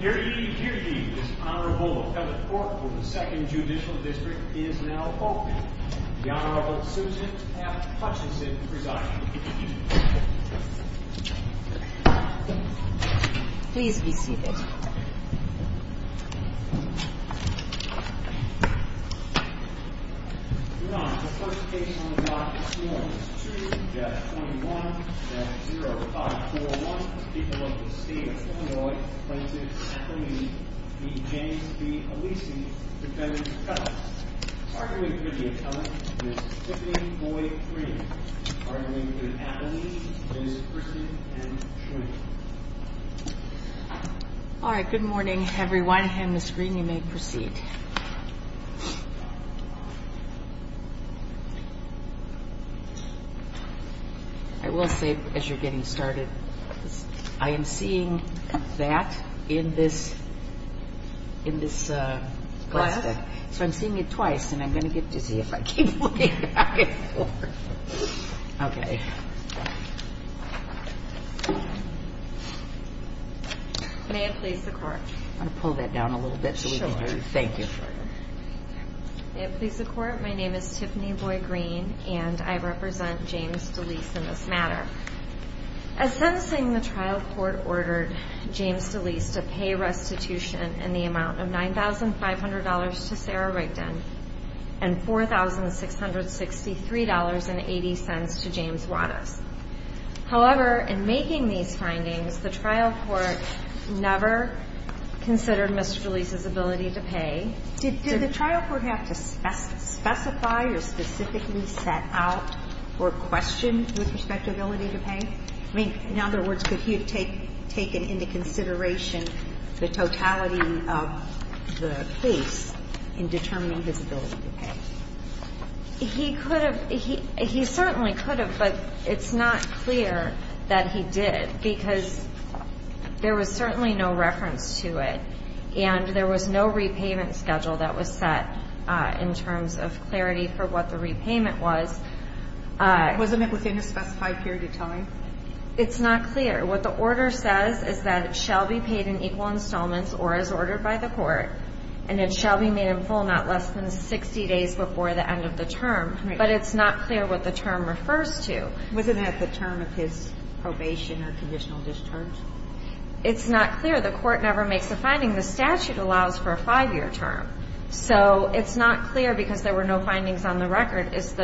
Herede, herede, this honorable appellate court for the Second Judicial District is now open. The Honorable Susan F. Hutchinson presiding. Please be seated. Your Honor, the first case on the block this morning is 2-21-0541. The people of the state of Illinois plaintiff's appellee, D. James B. Alise, defendant's appellant. Arguing for the appellant is Tiffany Boyd Green. Arguing for the appellee is Kristen M. Schwinn. All right, good morning everyone, and Ms. Green, you may proceed. I will say, as you're getting started, I am seeing that in this plastic. So I'm seeing it twice, and I'm going to get dizzy if I keep looking back and forth. I'm going to pull that down a little bit so we can get you. Thank you. May it please the Court, my name is Tiffany Boyd Green, and I represent James D'Alise in this matter. As sentencing, the trial court ordered James D'Alise to pay restitution in the amount of $9,500 to Sarah Rigdon and $4,663.80 to James Wattas. However, in making these findings, the trial court never considered Mr. D'Alise's ability to pay. Did the trial court have to specify or specifically set out or question with respect to ability to pay? I mean, in other words, could he have taken into consideration the totality of the case in determining his ability to pay? He could have. He certainly could have, but it's not clear that he did because there was certainly no reference to it. And there was no repayment schedule that was set in terms of clarity for what the repayment was. Wasn't it within a specified period of time? It's not clear. What the order says is that it shall be paid in equal installments or as ordered by the court, and it shall be made in full not less than 60 days before the end of the term. But it's not clear what the term refers to. Wasn't that the term of his probation or conditional discharge? It's not clear. The court never makes a finding. The statute allows for a five-year term. So it's not clear because there were no findings on the record if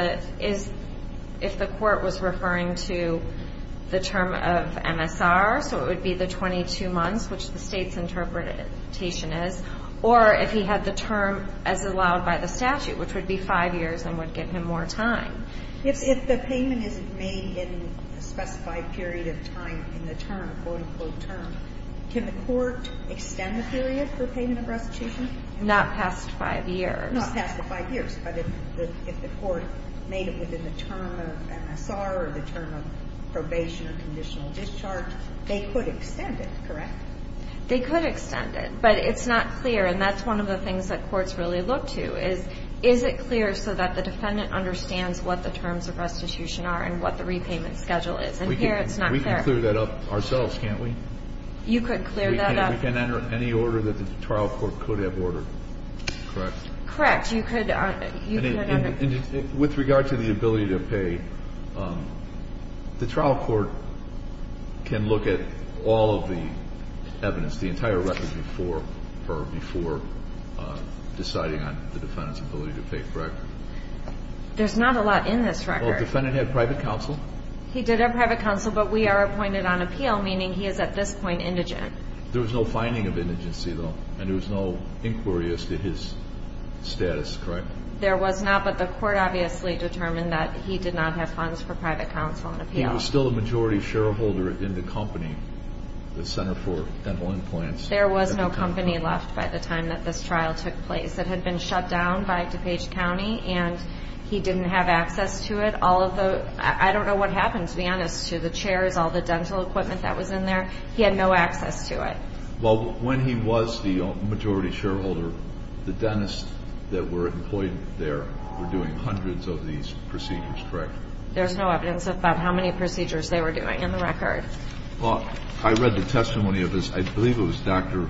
the court was referring to the term of MSR, so it would be the 22 months, which the State's interpretation is, or if he had the term as allowed by the statute, which would be five years and would give him more time. If the payment is made in a specified period of time in the term, quote-unquote term, can the court extend the period for payment of restitution? Not past five years. Not past the five years, but if the court made it within the term of MSR or the term of probation or conditional discharge, they could extend it, correct? They could extend it, but it's not clear, and that's one of the things that courts really look to is, is it clear so that the defendant understands what the terms of restitution are and what the repayment schedule is? And here it's not clear. We can clear that up ourselves, can't we? You could clear that up. We can enter any order that the trial court could have ordered, correct? Correct. You could enter. With regard to the ability to pay, the trial court can look at all of the evidence, the entire record before deciding on the defendant's ability to pay, correct? There's not a lot in this record. Well, the defendant had private counsel. He did have private counsel, but we are appointed on appeal, meaning he is at this point indigent. There was no finding of indigency, though, and there was no inquiry as to his status, correct? There was not, but the court obviously determined that he did not have funds for private counsel on appeal. He was still a majority shareholder in the company, the Center for Dental Implants. There was no company left by the time that this trial took place. It had been shut down by DuPage County, and he didn't have access to it. I don't know what happened, to be honest, to the chairs, all the dental equipment that was in there. He had no access to it. Well, when he was the majority shareholder, the dentists that were employed there were doing hundreds of these procedures, correct? There's no evidence about how many procedures they were doing in the record. Well, I read the testimony of this. I believe it was Dr.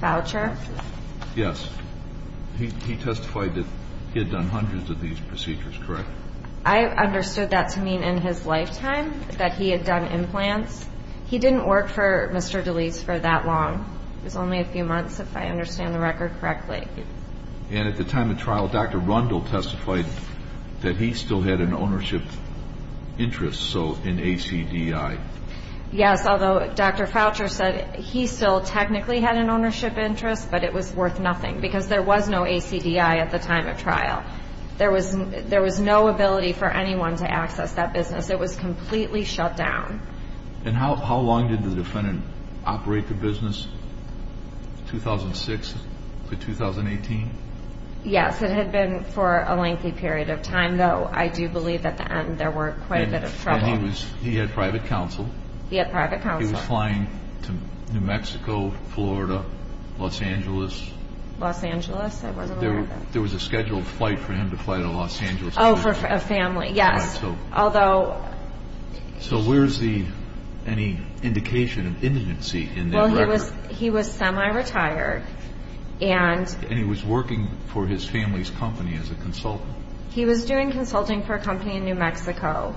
Foucher. Yes. He testified that he had done hundreds of these procedures, correct? I understood that to mean in his lifetime that he had done implants. He didn't work for Mr. DeLeese for that long. It was only a few months, if I understand the record correctly. And at the time of trial, Dr. Rundle testified that he still had an ownership interest, so an ACDI. Yes, although Dr. Foucher said he still technically had an ownership interest, but it was worth nothing because there was no ACDI at the time of trial. There was no ability for anyone to access that business. It was completely shut down. And how long did the defendant operate the business, 2006 to 2018? Yes, it had been for a lengthy period of time, though I do believe at the end there were quite a bit of trouble. He had private counsel. He had private counsel. He was flying to New Mexico, Florida, Los Angeles. Los Angeles, I wasn't aware of that. There was a scheduled flight for him to fly to Los Angeles. Oh, for a family, yes. So where is any indication of indigency in that record? Well, he was semi-retired. And he was working for his family's company as a consultant? He was doing consulting for a company in New Mexico,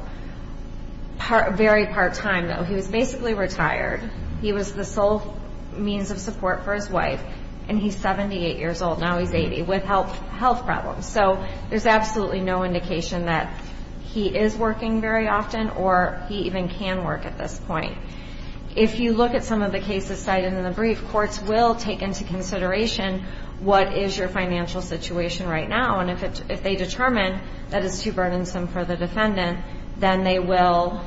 very part-time, though. He was basically retired. He was the sole means of support for his wife, and he's 78 years old. Now he's 80, with health problems. So there's absolutely no indication that he is working very often, or he even can work at this point. If you look at some of the cases cited in the brief, courts will take into consideration what is your financial situation right now. And if they determine that it's too burdensome for the defendant, then they will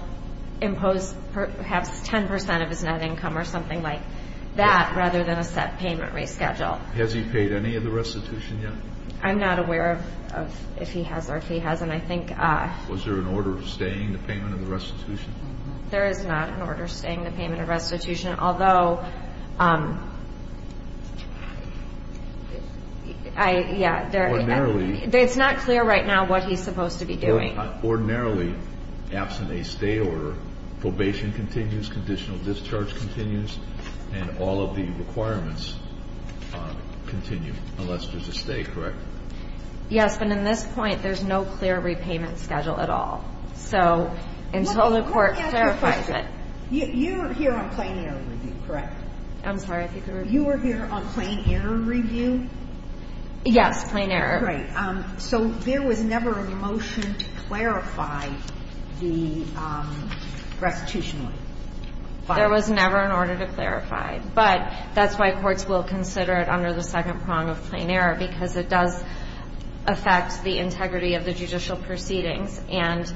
impose perhaps 10 percent of his net income or something like that, rather than a set payment reschedule. Has he paid any of the restitution yet? I'm not aware of if he has or if he hasn't. I think – Was there an order of staying the payment of the restitution? There is not an order of staying the payment of restitution, although – Ordinarily – It's not clear right now what he's supposed to be doing. Ordinarily, absent a stay order, probation continues, conditional discharge continues, and all of the requirements continue unless there's a stay, correct? Yes, but in this point, there's no clear repayment schedule at all. So until the court clarifies it – Let me ask you a question. You were here on plain error review, correct? I'm sorry. You were here on plain error review? Yes, plain error. Right. So there was never a motion to clarify the restitution? There was never an order to clarify. But that's why courts will consider it under the second prong of plain error, because it does affect the integrity of the judicial proceedings, and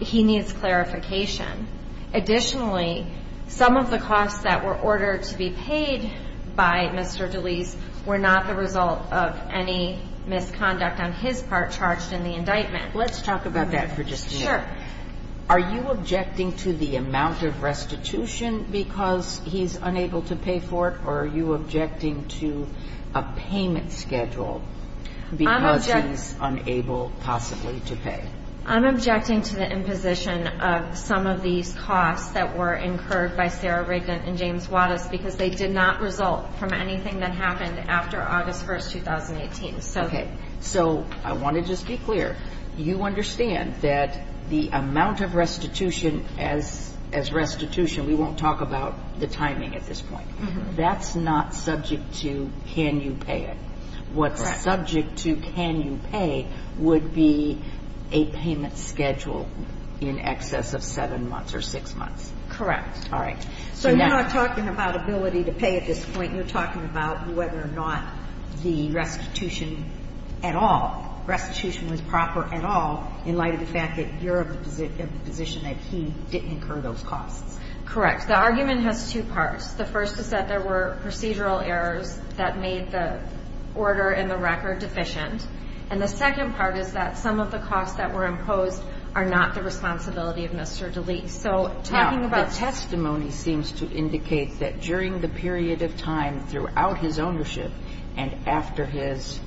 he needs clarification. Additionally, some of the costs that were ordered to be paid by Mr. DeLees were not the result of any misconduct on his part charged in the indictment. Let's talk about that for just a minute. Sure. Are you objecting to the amount of restitution because he's unable to pay for it, or are you objecting to a payment schedule because he's unable possibly to pay? I'm objecting to the imposition of some of these costs that were incurred by Sarah Rigdon and James Wattis because they did not result from anything that happened after August 1, 2018. Okay. So I want to just be clear. You understand that the amount of restitution as restitution, we won't talk about the timing at this point. That's not subject to can you pay it. Correct. What's subject to can you pay would be a payment schedule in excess of 7 months or 6 months. Correct. All right. So you're not talking about ability to pay at this point. You're talking about whether or not the restitution at all, restitution was proper at all in light of the fact that you're of the position that he didn't incur those costs. Correct. The argument has two parts. The first is that there were procedural errors that made the order in the record deficient. And the second part is that some of the costs that were imposed are not the responsibility of Mr. DeLeese. Now, the testimony seems to indicate that during the period of time throughout his ownership and after his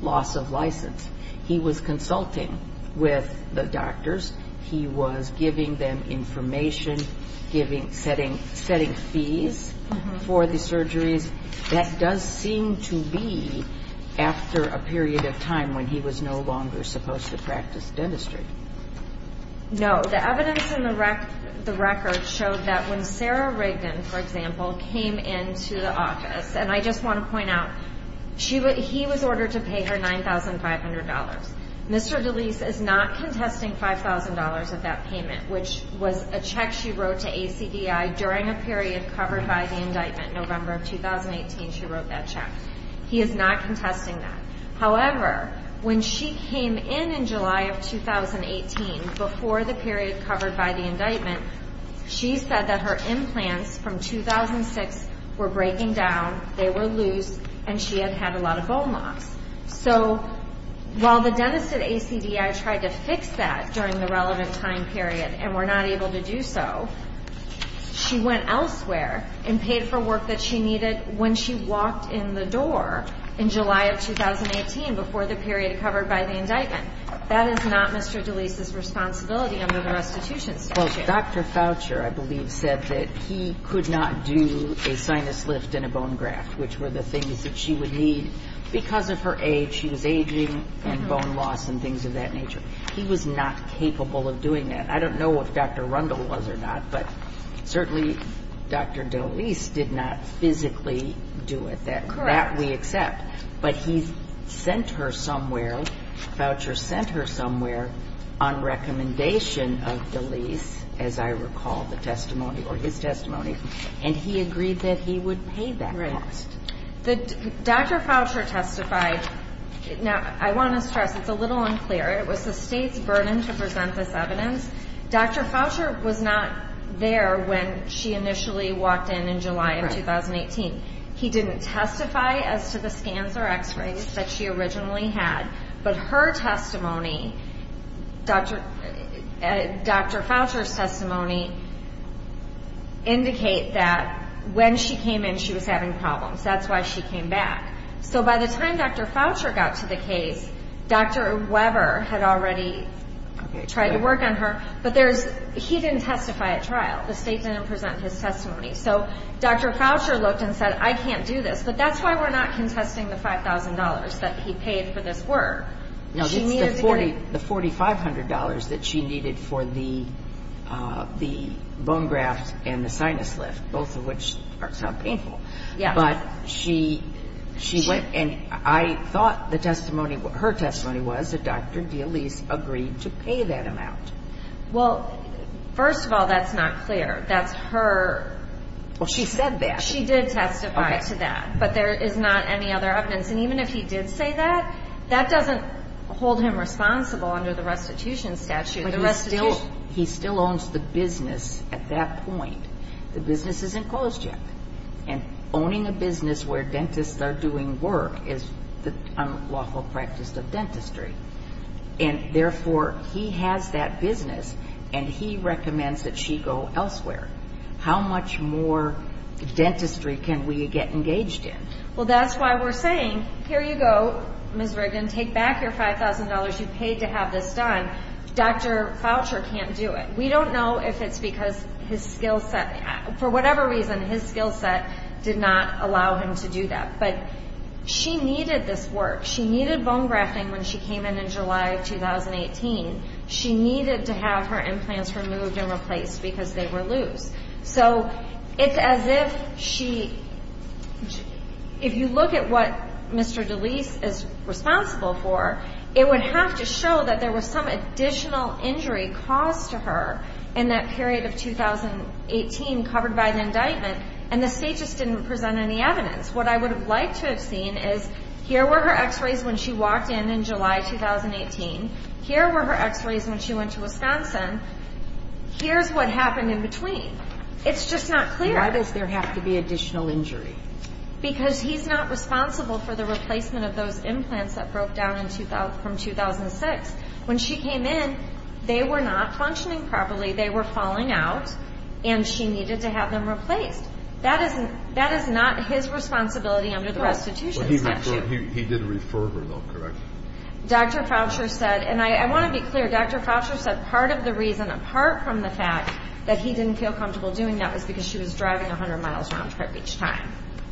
loss of license, he was consulting with the doctors. He was giving them information, setting fees for the surgeries. That does seem to be after a period of time when he was no longer supposed to practice dentistry. No. The evidence in the record showed that when Sarah Reagan, for example, came into the office, and I just want to point out, he was ordered to pay her $9,500. Mr. DeLeese is not contesting $5,000 of that payment, which was a check she wrote to ACDI during a period covered by the indictment. November of 2018, she wrote that check. He is not contesting that. However, when she came in in July of 2018, before the period covered by the indictment, she was paid $5,000 of that payment. So the dentists at ACDI were breaking down, they were loose, and she had had a lot of bone loss. So while the dentists at ACDI tried to fix that during the relevant time period and were not able to do so, she went elsewhere and paid for work that she needed when she walked in the door in July of 2018, before the period covered by the indictment. That is not Mr. DeLeese's responsibility under the restitution statute. Well, Dr. Foucher, I believe, said that he could not do a sinus lift and a bone graft, which were the things that she would need because of her age. She was aging and bone loss and things of that nature. He was not capable of doing that. I don't know if Dr. Rundle was or not, but certainly Dr. DeLeese did not physically do it. That we accept. But he sent her somewhere. Foucher sent her somewhere on recommendation of DeLeese, as I recall the testimony or his testimony. And he agreed that he would pay that cost. Dr. Foucher testified. Now, I want to stress it's a little unclear. It was the state's burden to present this evidence. Dr. Foucher was not there when she initially walked in in July of 2018. He didn't testify as to the scans or x-rays that she originally had. But her testimony, Dr. Foucher's testimony, indicate that when she came in, she was having problems. That's why she came back. So by the time Dr. Foucher got to the case, Dr. Weber had already tried to work on her, but he didn't testify at trial. The state didn't present his testimony. So Dr. Foucher looked and said, I can't do this. But that's why we're not contesting the $5,000 that he paid for this work. No, it's the $4,500 that she needed for the bone graft and the sinus lift, both of which are so painful. But she went and I thought her testimony was that Dr. DeLeese agreed to pay that amount. Well, first of all, that's not clear. That's her. Well, she said that. She did testify to that. Okay. But there is not any other evidence. And even if he did say that, that doesn't hold him responsible under the restitution statute. But he still owns the business at that point. The business isn't closed yet. And owning a business where dentists are doing work is an unlawful practice of dentistry. And therefore, he has that business and he recommends that she go elsewhere. How much more dentistry can we get engaged in? Well, that's why we're saying, here you go, Ms. Rigdon, take back your $5,000. You paid to have this done. Dr. Foucher can't do it. We don't know if it's because his skill set, for whatever reason, his skill set did not allow him to do that. But she needed this work. She needed bone grafting when she came in, in July of 2018. She needed to have her implants removed and replaced because they were loose. So it's as if she – if you look at what Mr. DeLeese is responsible for, it would have to show that there was some additional injury caused to her in that period of 2018 covered by an indictment, and the state just didn't present any evidence. What I would have liked to have seen is here were her x-rays when she walked in in July 2018. Here were her x-rays when she went to Wisconsin. Here's what happened in between. It's just not clear. Why does there have to be additional injury? Because he's not responsible for the replacement of those implants that broke down from 2006. When she came in, they were not functioning properly. They were falling out, and she needed to have them replaced. That is not his responsibility under the restitution statute. He did refer her, though, correct? Dr. Foucher said – and I want to be clear. Dr. Foucher said part of the reason, apart from the fact that he didn't feel comfortable doing that, was because she was driving a hundred miles round trip each time.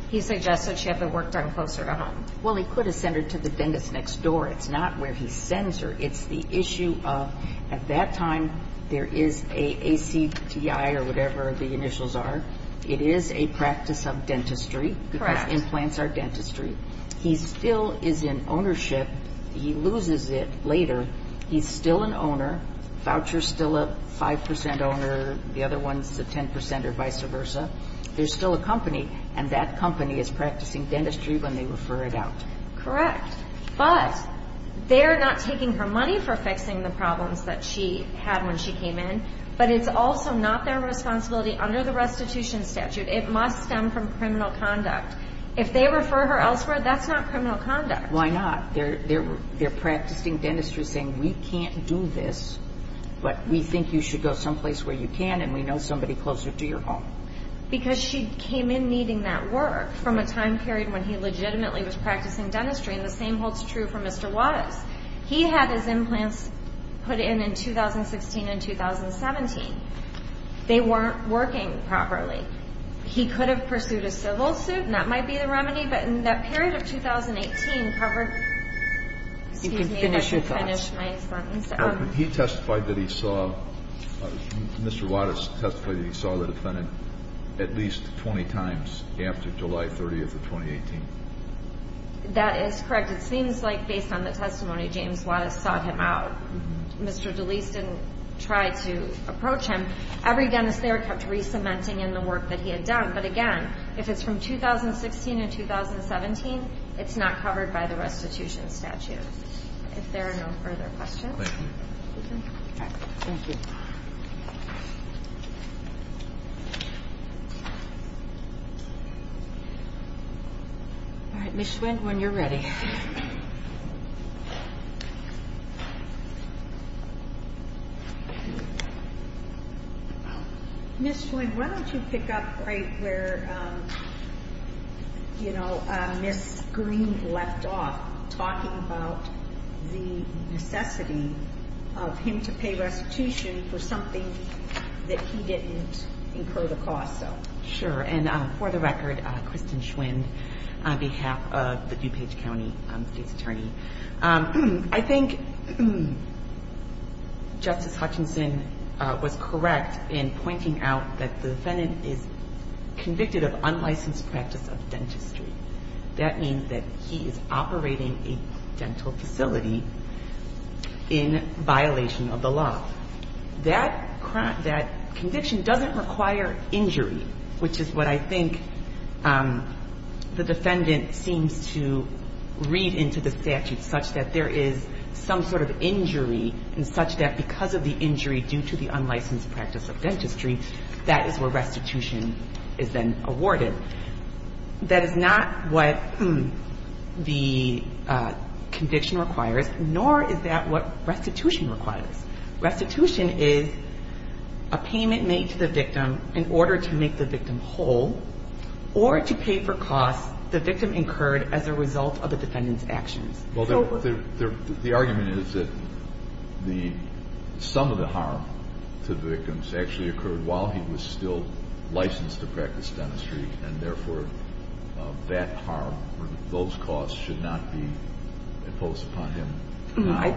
He suggested she have the work done closer to home. Well, he could have sent her to the dentist next door. It's not where he sends her. It's the issue of, at that time, there is a ACTI or whatever the initials are. It is a practice of dentistry. Correct. Because implants are dentistry. He still is in ownership. He loses it later. He's still an owner. Foucher's still a 5% owner. The other one's a 10% or vice versa. There's still a company, and that company is practicing dentistry when they refer it out. Correct. But they're not taking her money for fixing the problems that she had when she came in. But it's also not their responsibility under the restitution statute. It must stem from criminal conduct. If they refer her elsewhere, that's not criminal conduct. Why not? They're practicing dentistry saying, we can't do this, but we think you should go someplace where you can, and we know somebody closer to your home. Because she came in needing that work from a time period when he legitimately was practicing dentistry, and the same holds true for Mr. Wattis. He had his implants put in in 2016 and 2017. They weren't working properly. He could have pursued a civil suit, and that might be the remedy, but that period of 2018 covered my sentence. You can finish your thoughts. He testified that he saw, Mr. Wattis testified that he saw the defendant at least 20 times after July 30th of 2018. That is correct. And it seems like based on the testimony, James Wattis sought him out. Mr. DeLeese didn't try to approach him. Every dentist there kept re-cementing in the work that he had done. But, again, if it's from 2016 and 2017, it's not covered by the restitution statute. If there are no further questions. Thank you. All right. Ms. Schwinn, when you're ready. Ms. Schwinn, why don't you pick up right where Ms. Green left off, talking about the necessity of him to pay restitution for something that he didn't incur the cost of. Sure. And for the record, Kristen Schwinn, on behalf of the DuPage County State Attorney, I think Justice Hutchinson was correct in pointing out that the defendant is convicted of unlicensed practice of dentistry. That means that he is operating a dental facility in violation of the law. That conviction doesn't require injury, which is what I think the defendant seems to read into the statute, such that there is some sort of injury and such that because of the injury due to the unlicensed practice of dentistry, that is where restitution is then awarded. That is not what the conviction requires, nor is that what restitution requires. Restitution is a payment made to the victim in order to make the victim whole or to pay for costs the victim incurred as a result of the defendant's actions. Well, the argument is that some of the harm to the victims actually occurred while he was still licensed to practice dentistry, and therefore that harm or those costs should not be imposed upon him. I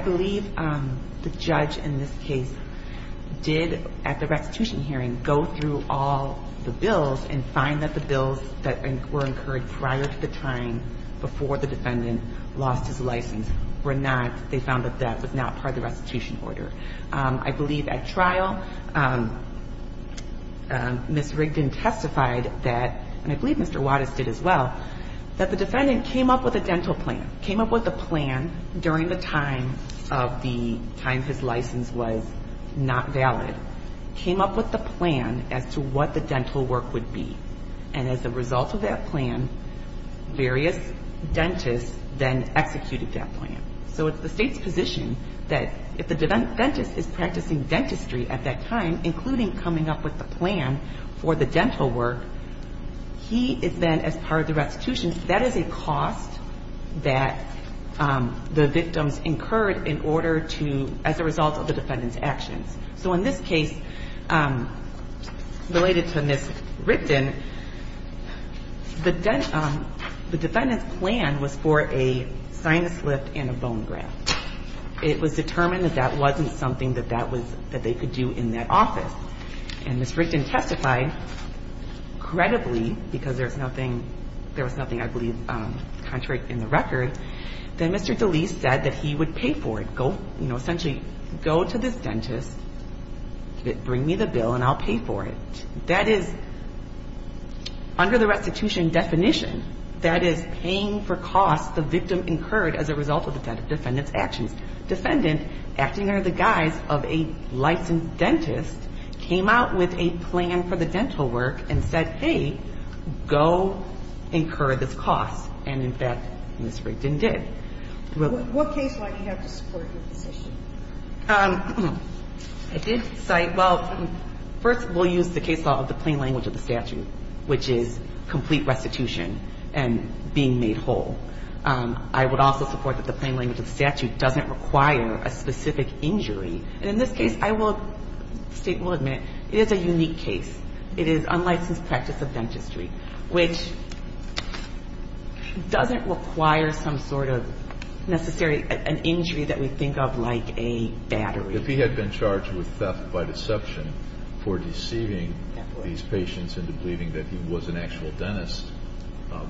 believe the judge in this case did, at the restitution hearing, go through all the bills and find that the bills that were incurred prior to the time before the defendant lost his license were not, they found that that was not part of the restitution order. I believe at trial, Ms. Rigdon testified that, and I believe Mr. Wattis did as well, that the defendant came up with a dental plan, came up with a plan during the time of the time his license was not valid, came up with a plan as to what the dental work would be, and as a result of that plan, various dentists then executed that plan. So it's the State's position that if the dentist is practicing dentistry at that time, including coming up with the plan for the dental work, he is then, as part of the restitution, that is a cost that the victims incurred in order to, as a result of the defendant's actions. So in this case, related to Ms. Rigdon, the defendant's plan was for a sinus lift and a bone graft. It was determined that that wasn't something that that was, that they could do in that office. And Ms. Rigdon testified, credibly, because there was nothing, there was nothing, I believe, contrary in the record, that Mr. DeLeese said that he would pay for it. Go, you know, essentially, go to this dentist, bring me the bill, and I'll pay for it. That is, under the restitution definition, that is paying for costs the victim incurred as a result of the defendant's actions. Defendant, acting under the guise of a licensed dentist, came out with a plan for the dental work and said, hey, go incur this cost. And, in fact, Ms. Rigdon did. What case might you have to support your position? I did cite, well, first, we'll use the case law of the plain language of the statute, which is complete restitution and being made whole. I would also support that the plain language of the statute doesn't require a specific injury. And in this case, I will state, will admit, it is a unique case. It is unlicensed practice of dentistry, which doesn't require some sort of necessary injury that we think of like a battery. If he had been charged with theft by deception for deceiving these patients into believing that he was an actual dentist,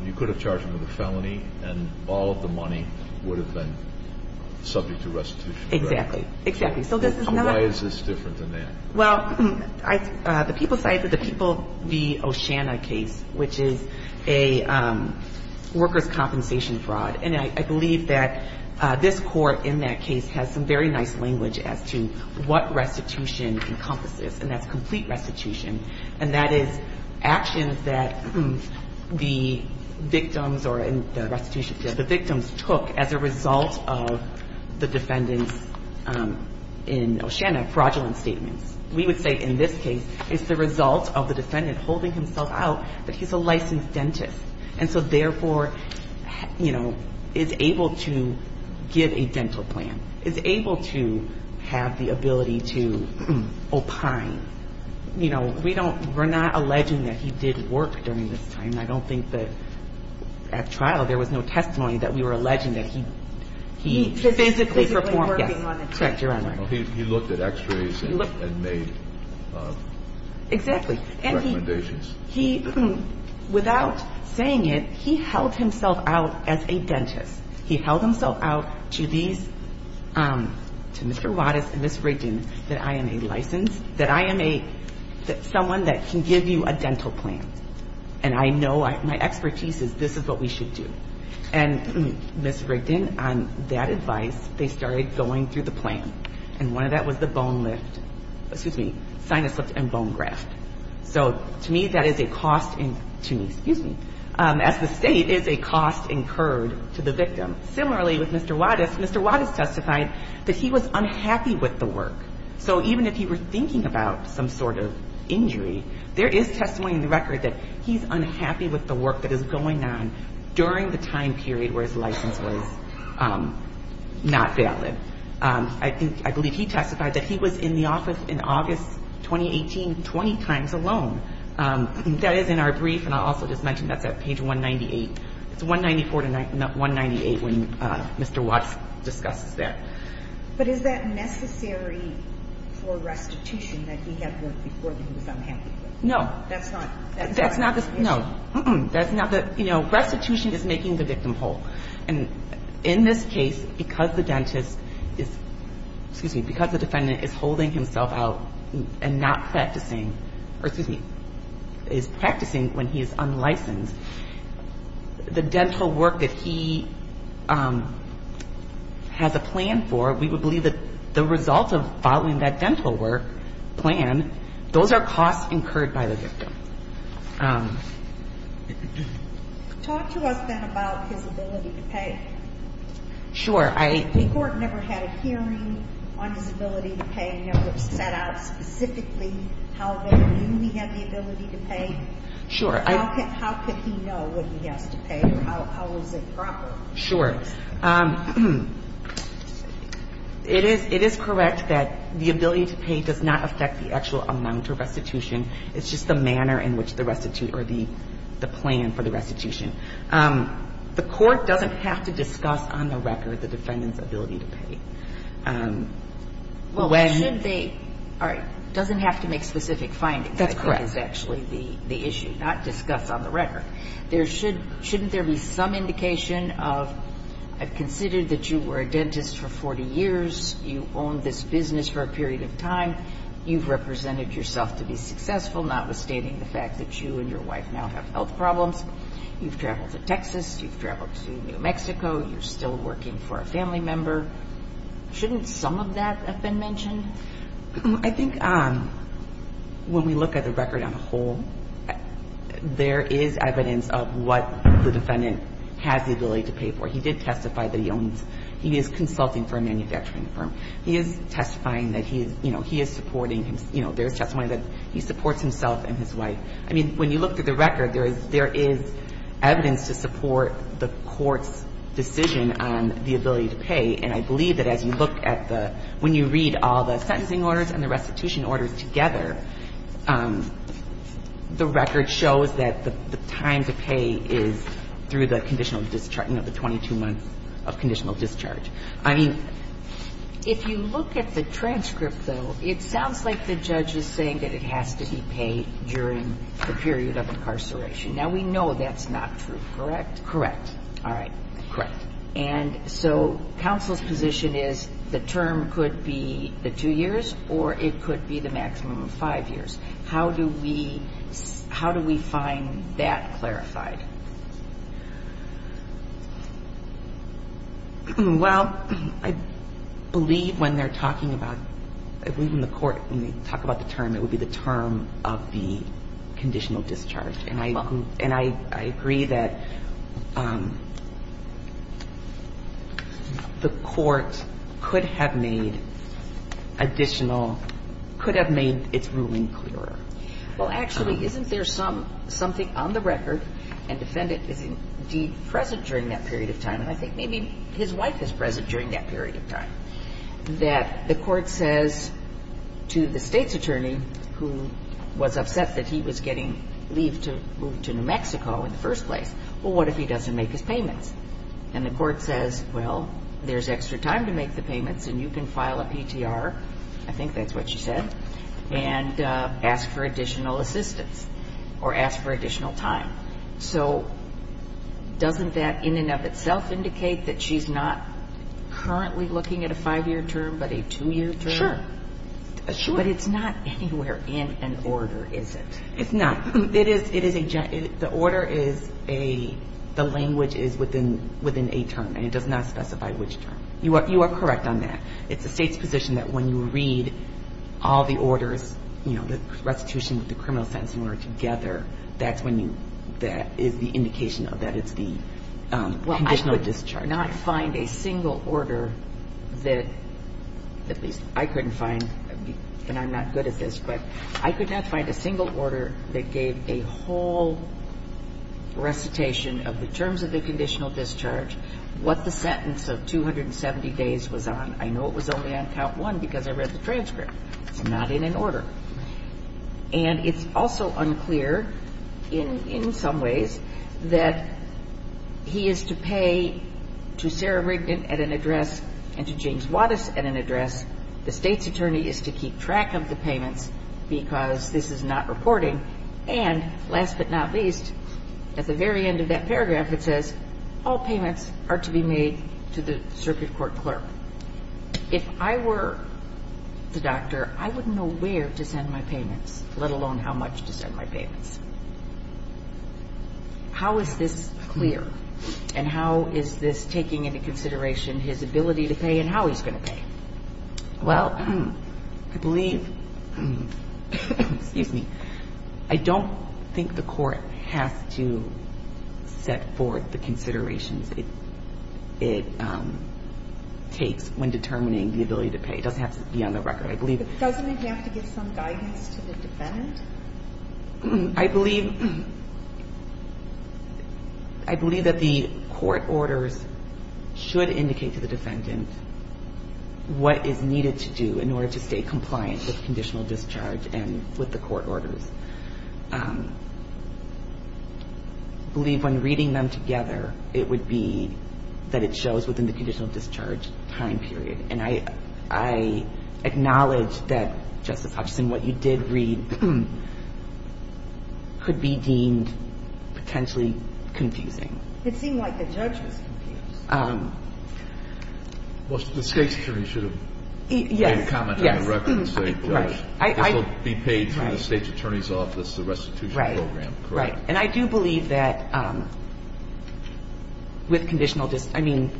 you could have charged him with a felony and all of the money would have been subject to restitution. Exactly. Exactly. So why is this different than that? Well, the people cited the People v. Oceana case, which is a workers' compensation fraud. And I believe that this Court in that case has some very nice language as to what restitution encompasses, and that's complete restitution. And that is actions that the victims or the restitution, the victims took as a result of the defendant's, in Oceana, fraudulent statements. We would say in this case it's the result of the defendant holding himself out that he's a licensed dentist, and so therefore, you know, is able to give a dental plan, is able to have the ability to opine. You know, we don't, we're not alleging that he did work during this time. I don't think that at trial there was no testimony that we were alleging that he He was physically working on the teeth. Correct, Your Honor. He looked at x-rays and made recommendations. Exactly. And he, without saying it, he held himself out as a dentist. He held himself out to these, to Mr. Wattis and Ms. Rigdon, that I am a licensed, that I am a, someone that can give you a dental plan. And I know, my expertise is this is what we should do. And Ms. Rigdon, on that advice, they started going through the plan. And one of that was the bone lift, excuse me, sinus lift and bone graft. So to me, that is a cost in, to me, excuse me, as the State, is a cost incurred to the victim. Similarly, with Mr. Wattis, Mr. Wattis testified that he was unhappy with the work. So even if he were thinking about some sort of injury, there is testimony in the record that he's unhappy with the work that is going on during the time period where his license was not valid. I think, I believe he testified that he was in the office in August 2018 20 times alone. That is in our brief, and I'll also just mention that's at page 198. It's 194 to 198 when Mr. Wattis discusses that. But is that necessary for restitution that he had worked before that he was unhappy with? No. That's not, that's not the, no. That's not the, you know, restitution is making the victim whole. And in this case, because the dentist is, excuse me, because the defendant is holding himself out and not practicing, or excuse me, is practicing when he is unlicensed, the dental work that he has a plan for, we would believe that the result of following that dental work plan, those are costs incurred by the victim. Talk to us, then, about his ability to pay. Sure. I The court never had a hearing on his ability to pay, never set out specifically how they knew he had the ability to pay. Sure. How could he know what he has to pay, or how is it proper? Sure. It is, it is correct that the ability to pay does not affect the actual amount of restitution. It's just the manner in which the restitute, or the plan for the restitution. The court doesn't have to discuss on the record the defendant's ability to pay. When Well, should they, all right, doesn't have to make specific findings. That's correct. I think is actually the issue, not discuss on the record. There should, shouldn't there be some indication of, I've considered that you were a dentist for 40 years, you owned this business for a period of time, you've represented yourself to be successful, notwithstanding the fact that you and your wife now have health problems, you've traveled to Texas, you've traveled to New Mexico, you're still working for a family member. Shouldn't some of that have been mentioned? I think when we look at the record on a whole, there is evidence of what the defendant has the ability to pay for. He did testify that he owns, he is consulting for a manufacturing firm. He is testifying that he is, you know, he is supporting, you know, there is testimony that he supports himself and his wife. I mean, when you look at the record, there is evidence to support the court's decision on the ability to pay. And I believe that as you look at the, when you read all the sentencing orders and the restitution orders together, the record shows that the time to pay is through the conditional discharge, you know, the 22 months of conditional discharge. I mean, if you look at the transcript, though, it sounds like the judge is saying that it has to be paid during the period of incarceration. Now, we know that's not true, correct? Correct. All right. Correct. And so counsel's position is the term could be the two years or it could be the maximum of five years. How do we find that clarified? Well, I believe when they're talking about, I believe in the court, when they talk about the term, it would be the term of the conditional discharge. And I agree that the court could have made additional, could have made its ruling clearer. Well, actually, isn't there something on the record and defendant is indeed present during that period of time, and I think maybe his wife is present during that period of time, that the court says to the state's attorney, who was upset that he was getting moved to New Mexico in the first place, well, what if he doesn't make his payments? And the court says, well, there's extra time to make the payments and you can file a PTR, I think that's what you said, and ask for additional assistance or ask for additional time. So doesn't that, in and of itself, indicate that she's not currently looking at a five-year term but a two-year term? Sure. But it's not anywhere in an order, is it? It's not. It is a, the order is a, the language is within a term and it does not specify which term. You are correct on that. It's the state's position that when you read all the orders, you know, the restitution with the criminal sentencing order together, that is the indication that it's the conditional discharge. Well, I could not find a single order that, at least I couldn't find, and I'm not good at this, but I could not find a single order that gave a whole recitation of the terms of the conditional discharge, what the sentence of 270 days was on. I know it was only on count one because I read the transcript. It's not in an order. And it's also unclear, in some ways, that he is to pay to Sarah Rigdon at an address and to James Wattis at an address. The State's attorney is to keep track of the payments because this is not reporting. And, last but not least, at the very end of that paragraph, it says all payments are to be made to the circuit court clerk. If I were the doctor, I wouldn't know where to send my payments, let alone how much to send my payments. How is this clear? And how is this taking into consideration his ability to pay and how he's going to pay? Well, I believe, excuse me, I don't think the court has to set forth the considerations it takes when determining the ability to pay. It doesn't have to be on the record. I believe that the court orders should indicate to the defendant what is needed to do in order to stay compliant with conditional discharge and with the court orders. I believe when reading them together, it would be that it shows within the conditional discharge time period. And I acknowledge that, Justice Hutchison, what you did read could be deemed potentially confusing. It seemed like the judge was confused. Well, the State's attorney should have made a comment on the record and say, this will be paid through the State's attorney's office, the restitution program, correct? Right. And I do believe that with conditional discharge, I mean,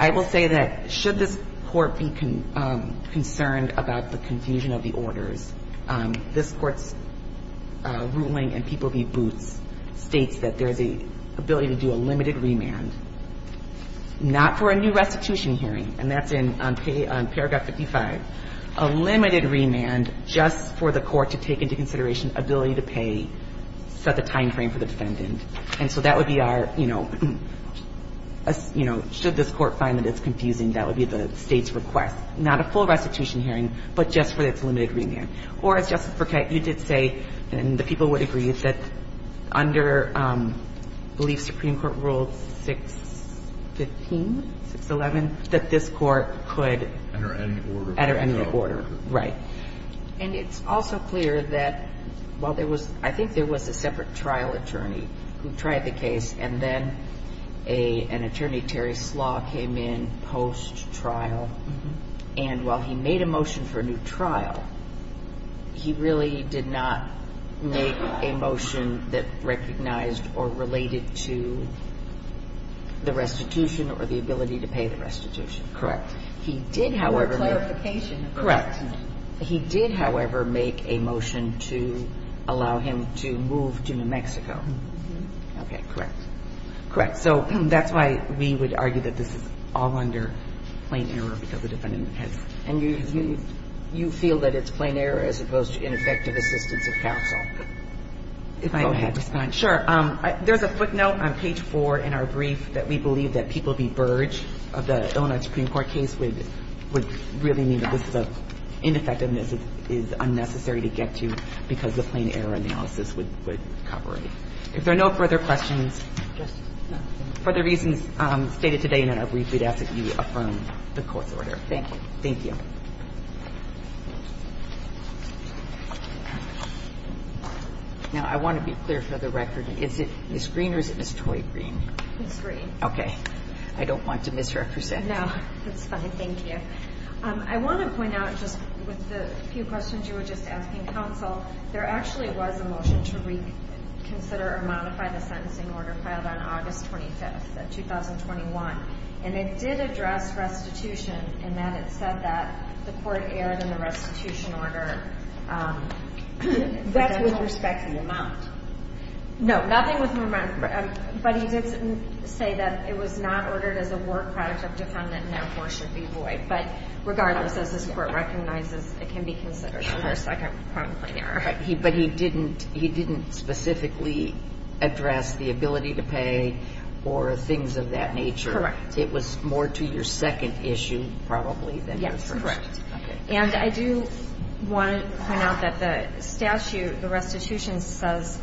I will say that should this court be concerned about the confusion of the orders, this Court's ruling in People v. Boots states that there's an ability to do a limited remand, not for a new restitution hearing. And that's on paragraph 55. A limited remand just for the court to take into consideration ability to pay, set the timeframe for the defendant. And so that would be our, you know, should this court find that it's confusing, that would be the State's request. Not a full restitution hearing, but just for its limited remand. Or, as Justice Burkett, you did say, and the people would agree, that under, I believe, Supreme Court Rule 615, 611, that this court could. Enter any order. Enter any order. Right. And it's also clear that while there was, I think there was a separate trial attorney who tried the case, and then an attorney, Terry Slaw, came in post-trial. And while he made a motion for a new trial, he really did not make a motion that recognized or related to the restitution or the ability to pay the restitution. Correct. He did, however. No clarification. Correct. He did, however, make a motion to allow him to move to New Mexico. Okay. Correct. Correct. So that's why we would argue that this is all under plain error, because the defendant has. And you feel that it's plain error as opposed to ineffective assistance of counsel? If I may respond. Sure. There's a footnote on page 4 in our brief that we believe that people be burge of the Illinois Supreme Court case would really mean that this is an ineffectiveness that is unnecessary to get to because the plain error analysis would cover it. If there are no further questions, just for the reasons stated today in our brief, we'd ask that you affirm the court's order. Thank you. Thank you. Now, I want to be clear for the record. Is it Ms. Green or is it Ms. Toy Green? Ms. Green. Okay. I don't want to misrepresent. No. That's fine. Thank you. I want to point out just with the few questions you were just asking counsel, there actually was a motion to reconsider or modify the sentencing order filed on August 25th of 2021. And it did address restitution in that it said that the court erred in the restitution order. That's with respect to the amount. No. Nothing with respect to the amount. But he did say that it was not ordered as a work product of defendant and therefore should be void. But regardless, as this Court recognizes, it can be considered for a second point of plain error. But he didn't specifically address the ability to pay or things of that nature. Correct. It was more to your second issue probably than your first. Yes. Correct. And I do want to point out that the statute, the restitution says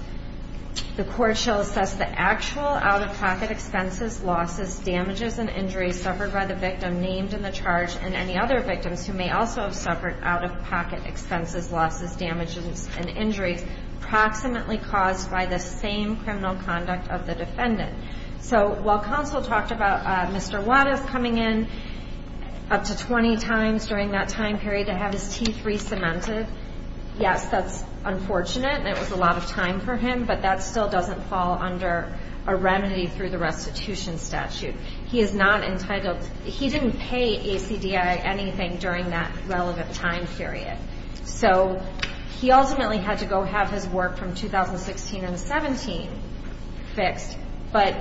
the court shall assess the actual out-of-pocket expenses, losses, damages, and injuries suffered by the victim named in the charge and any other victims who may also have suffered out-of-pocket expenses, losses, damages, and injuries approximately caused by the same criminal conduct of the defendant. So while counsel talked about Mr. Wattis coming in up to 20 times during that time period to have his teeth re-cemented, yes, that's unfortunate and it was a lot of time for him, but that still doesn't fall under a remedy through the restitution statute. He is not entitled. He didn't pay ACDI anything during that relevant time period. So he ultimately had to go have his work from 2016 and 17 fixed. But,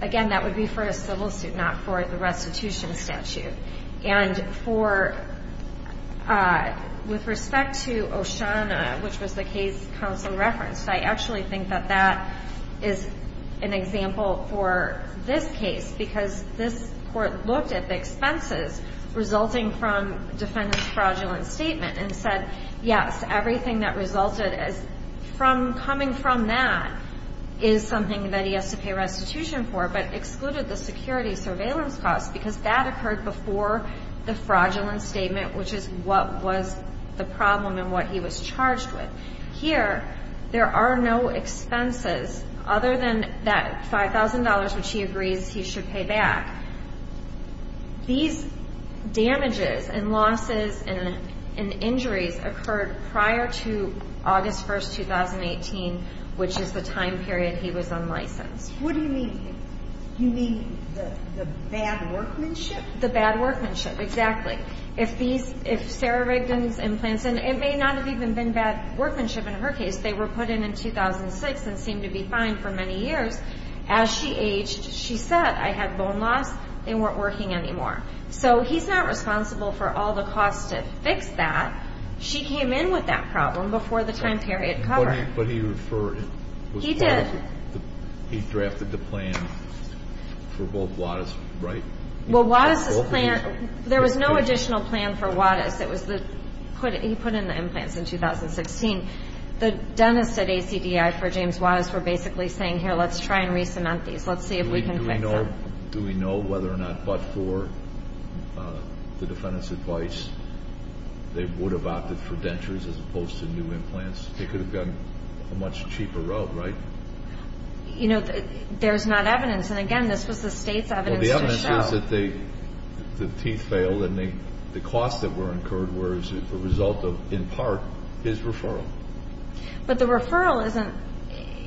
again, that would be for a civil suit, not for the restitution statute. And with respect to O'Shauna, which was the case counsel referenced, I actually think that that is an example for this case because this court looked at the expenses resulting from defendant's fraudulent statement and said, yes, everything that resulted from coming from that is something that he has to pay restitution for, but excluded the security surveillance costs because that occurred before the fraudulent statement, which is what was the problem and what he was charged with. Here, there are no expenses other than that $5,000, which he agrees he should pay back. These damages and losses and injuries occurred prior to August 1st, 2018, which is the time period he was unlicensed. What do you mean? You mean the bad workmanship? The bad workmanship, exactly. If Sarah Rigdon's implants, and it may not have even been bad workmanship in her case. They were put in in 2006 and seemed to be fine for many years. As she aged, she said, I had bone loss. They weren't working anymore. So he's not responsible for all the costs to fix that. She came in with that problem before the time period covered. But he referred it. He did. He drafted the plan for both Wattis, right? Well, Wattis' plan, there was no additional plan for Wattis. He put in the implants in 2016. The dentists at ACDI for James Wattis were basically saying, here, let's try and re-cement these. Let's see if we can fix them. Do we know whether or not, but for the defendant's advice, they would have opted for dentures as opposed to new implants? They could have gone a much cheaper route, right? You know, there's not evidence. And, again, this was the State's evidence to show. Well, the evidence is that the teeth failed and the costs that were incurred were as a result of, in part, his referral. But the referral isn't.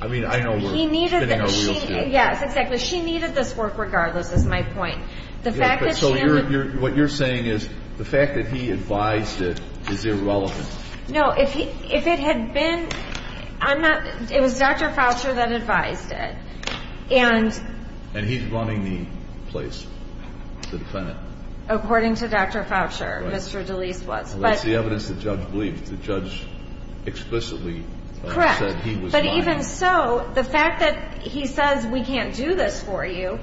I mean, I know we're spinning our wheels here. Yes, exactly. She needed this work regardless, is my point. So what you're saying is the fact that he advised it is irrelevant. No. If it had been, I'm not. It was Dr. Foucher that advised it. And he's running the place, the defendant. According to Dr. Foucher, Mr. DeLeese was. Well, that's the evidence the judge believed. The judge explicitly said he was lying. Correct. But even so, the fact that he says, we can't do this for you,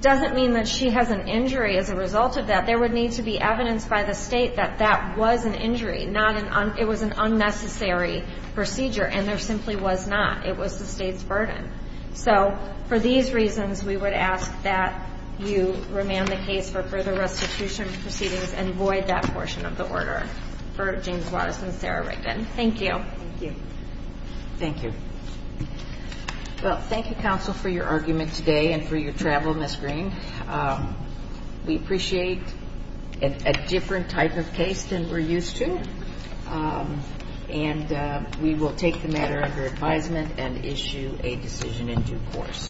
doesn't mean that she has an injury as a result of that. There would need to be evidence by the State that that was an injury, not an unnecessary procedure. And there simply was not. It was the State's burden. So for these reasons, we would ask that you remand the case for further restitution proceedings and void that portion of the order for James Wattis and Sarah Rigdon. Thank you. Thank you. Well, thank you, counsel, for your argument today and for your travel, Ms. Green. We appreciate a different type of case than we're used to. And we will take the matter under advisement and issue a decision in due course.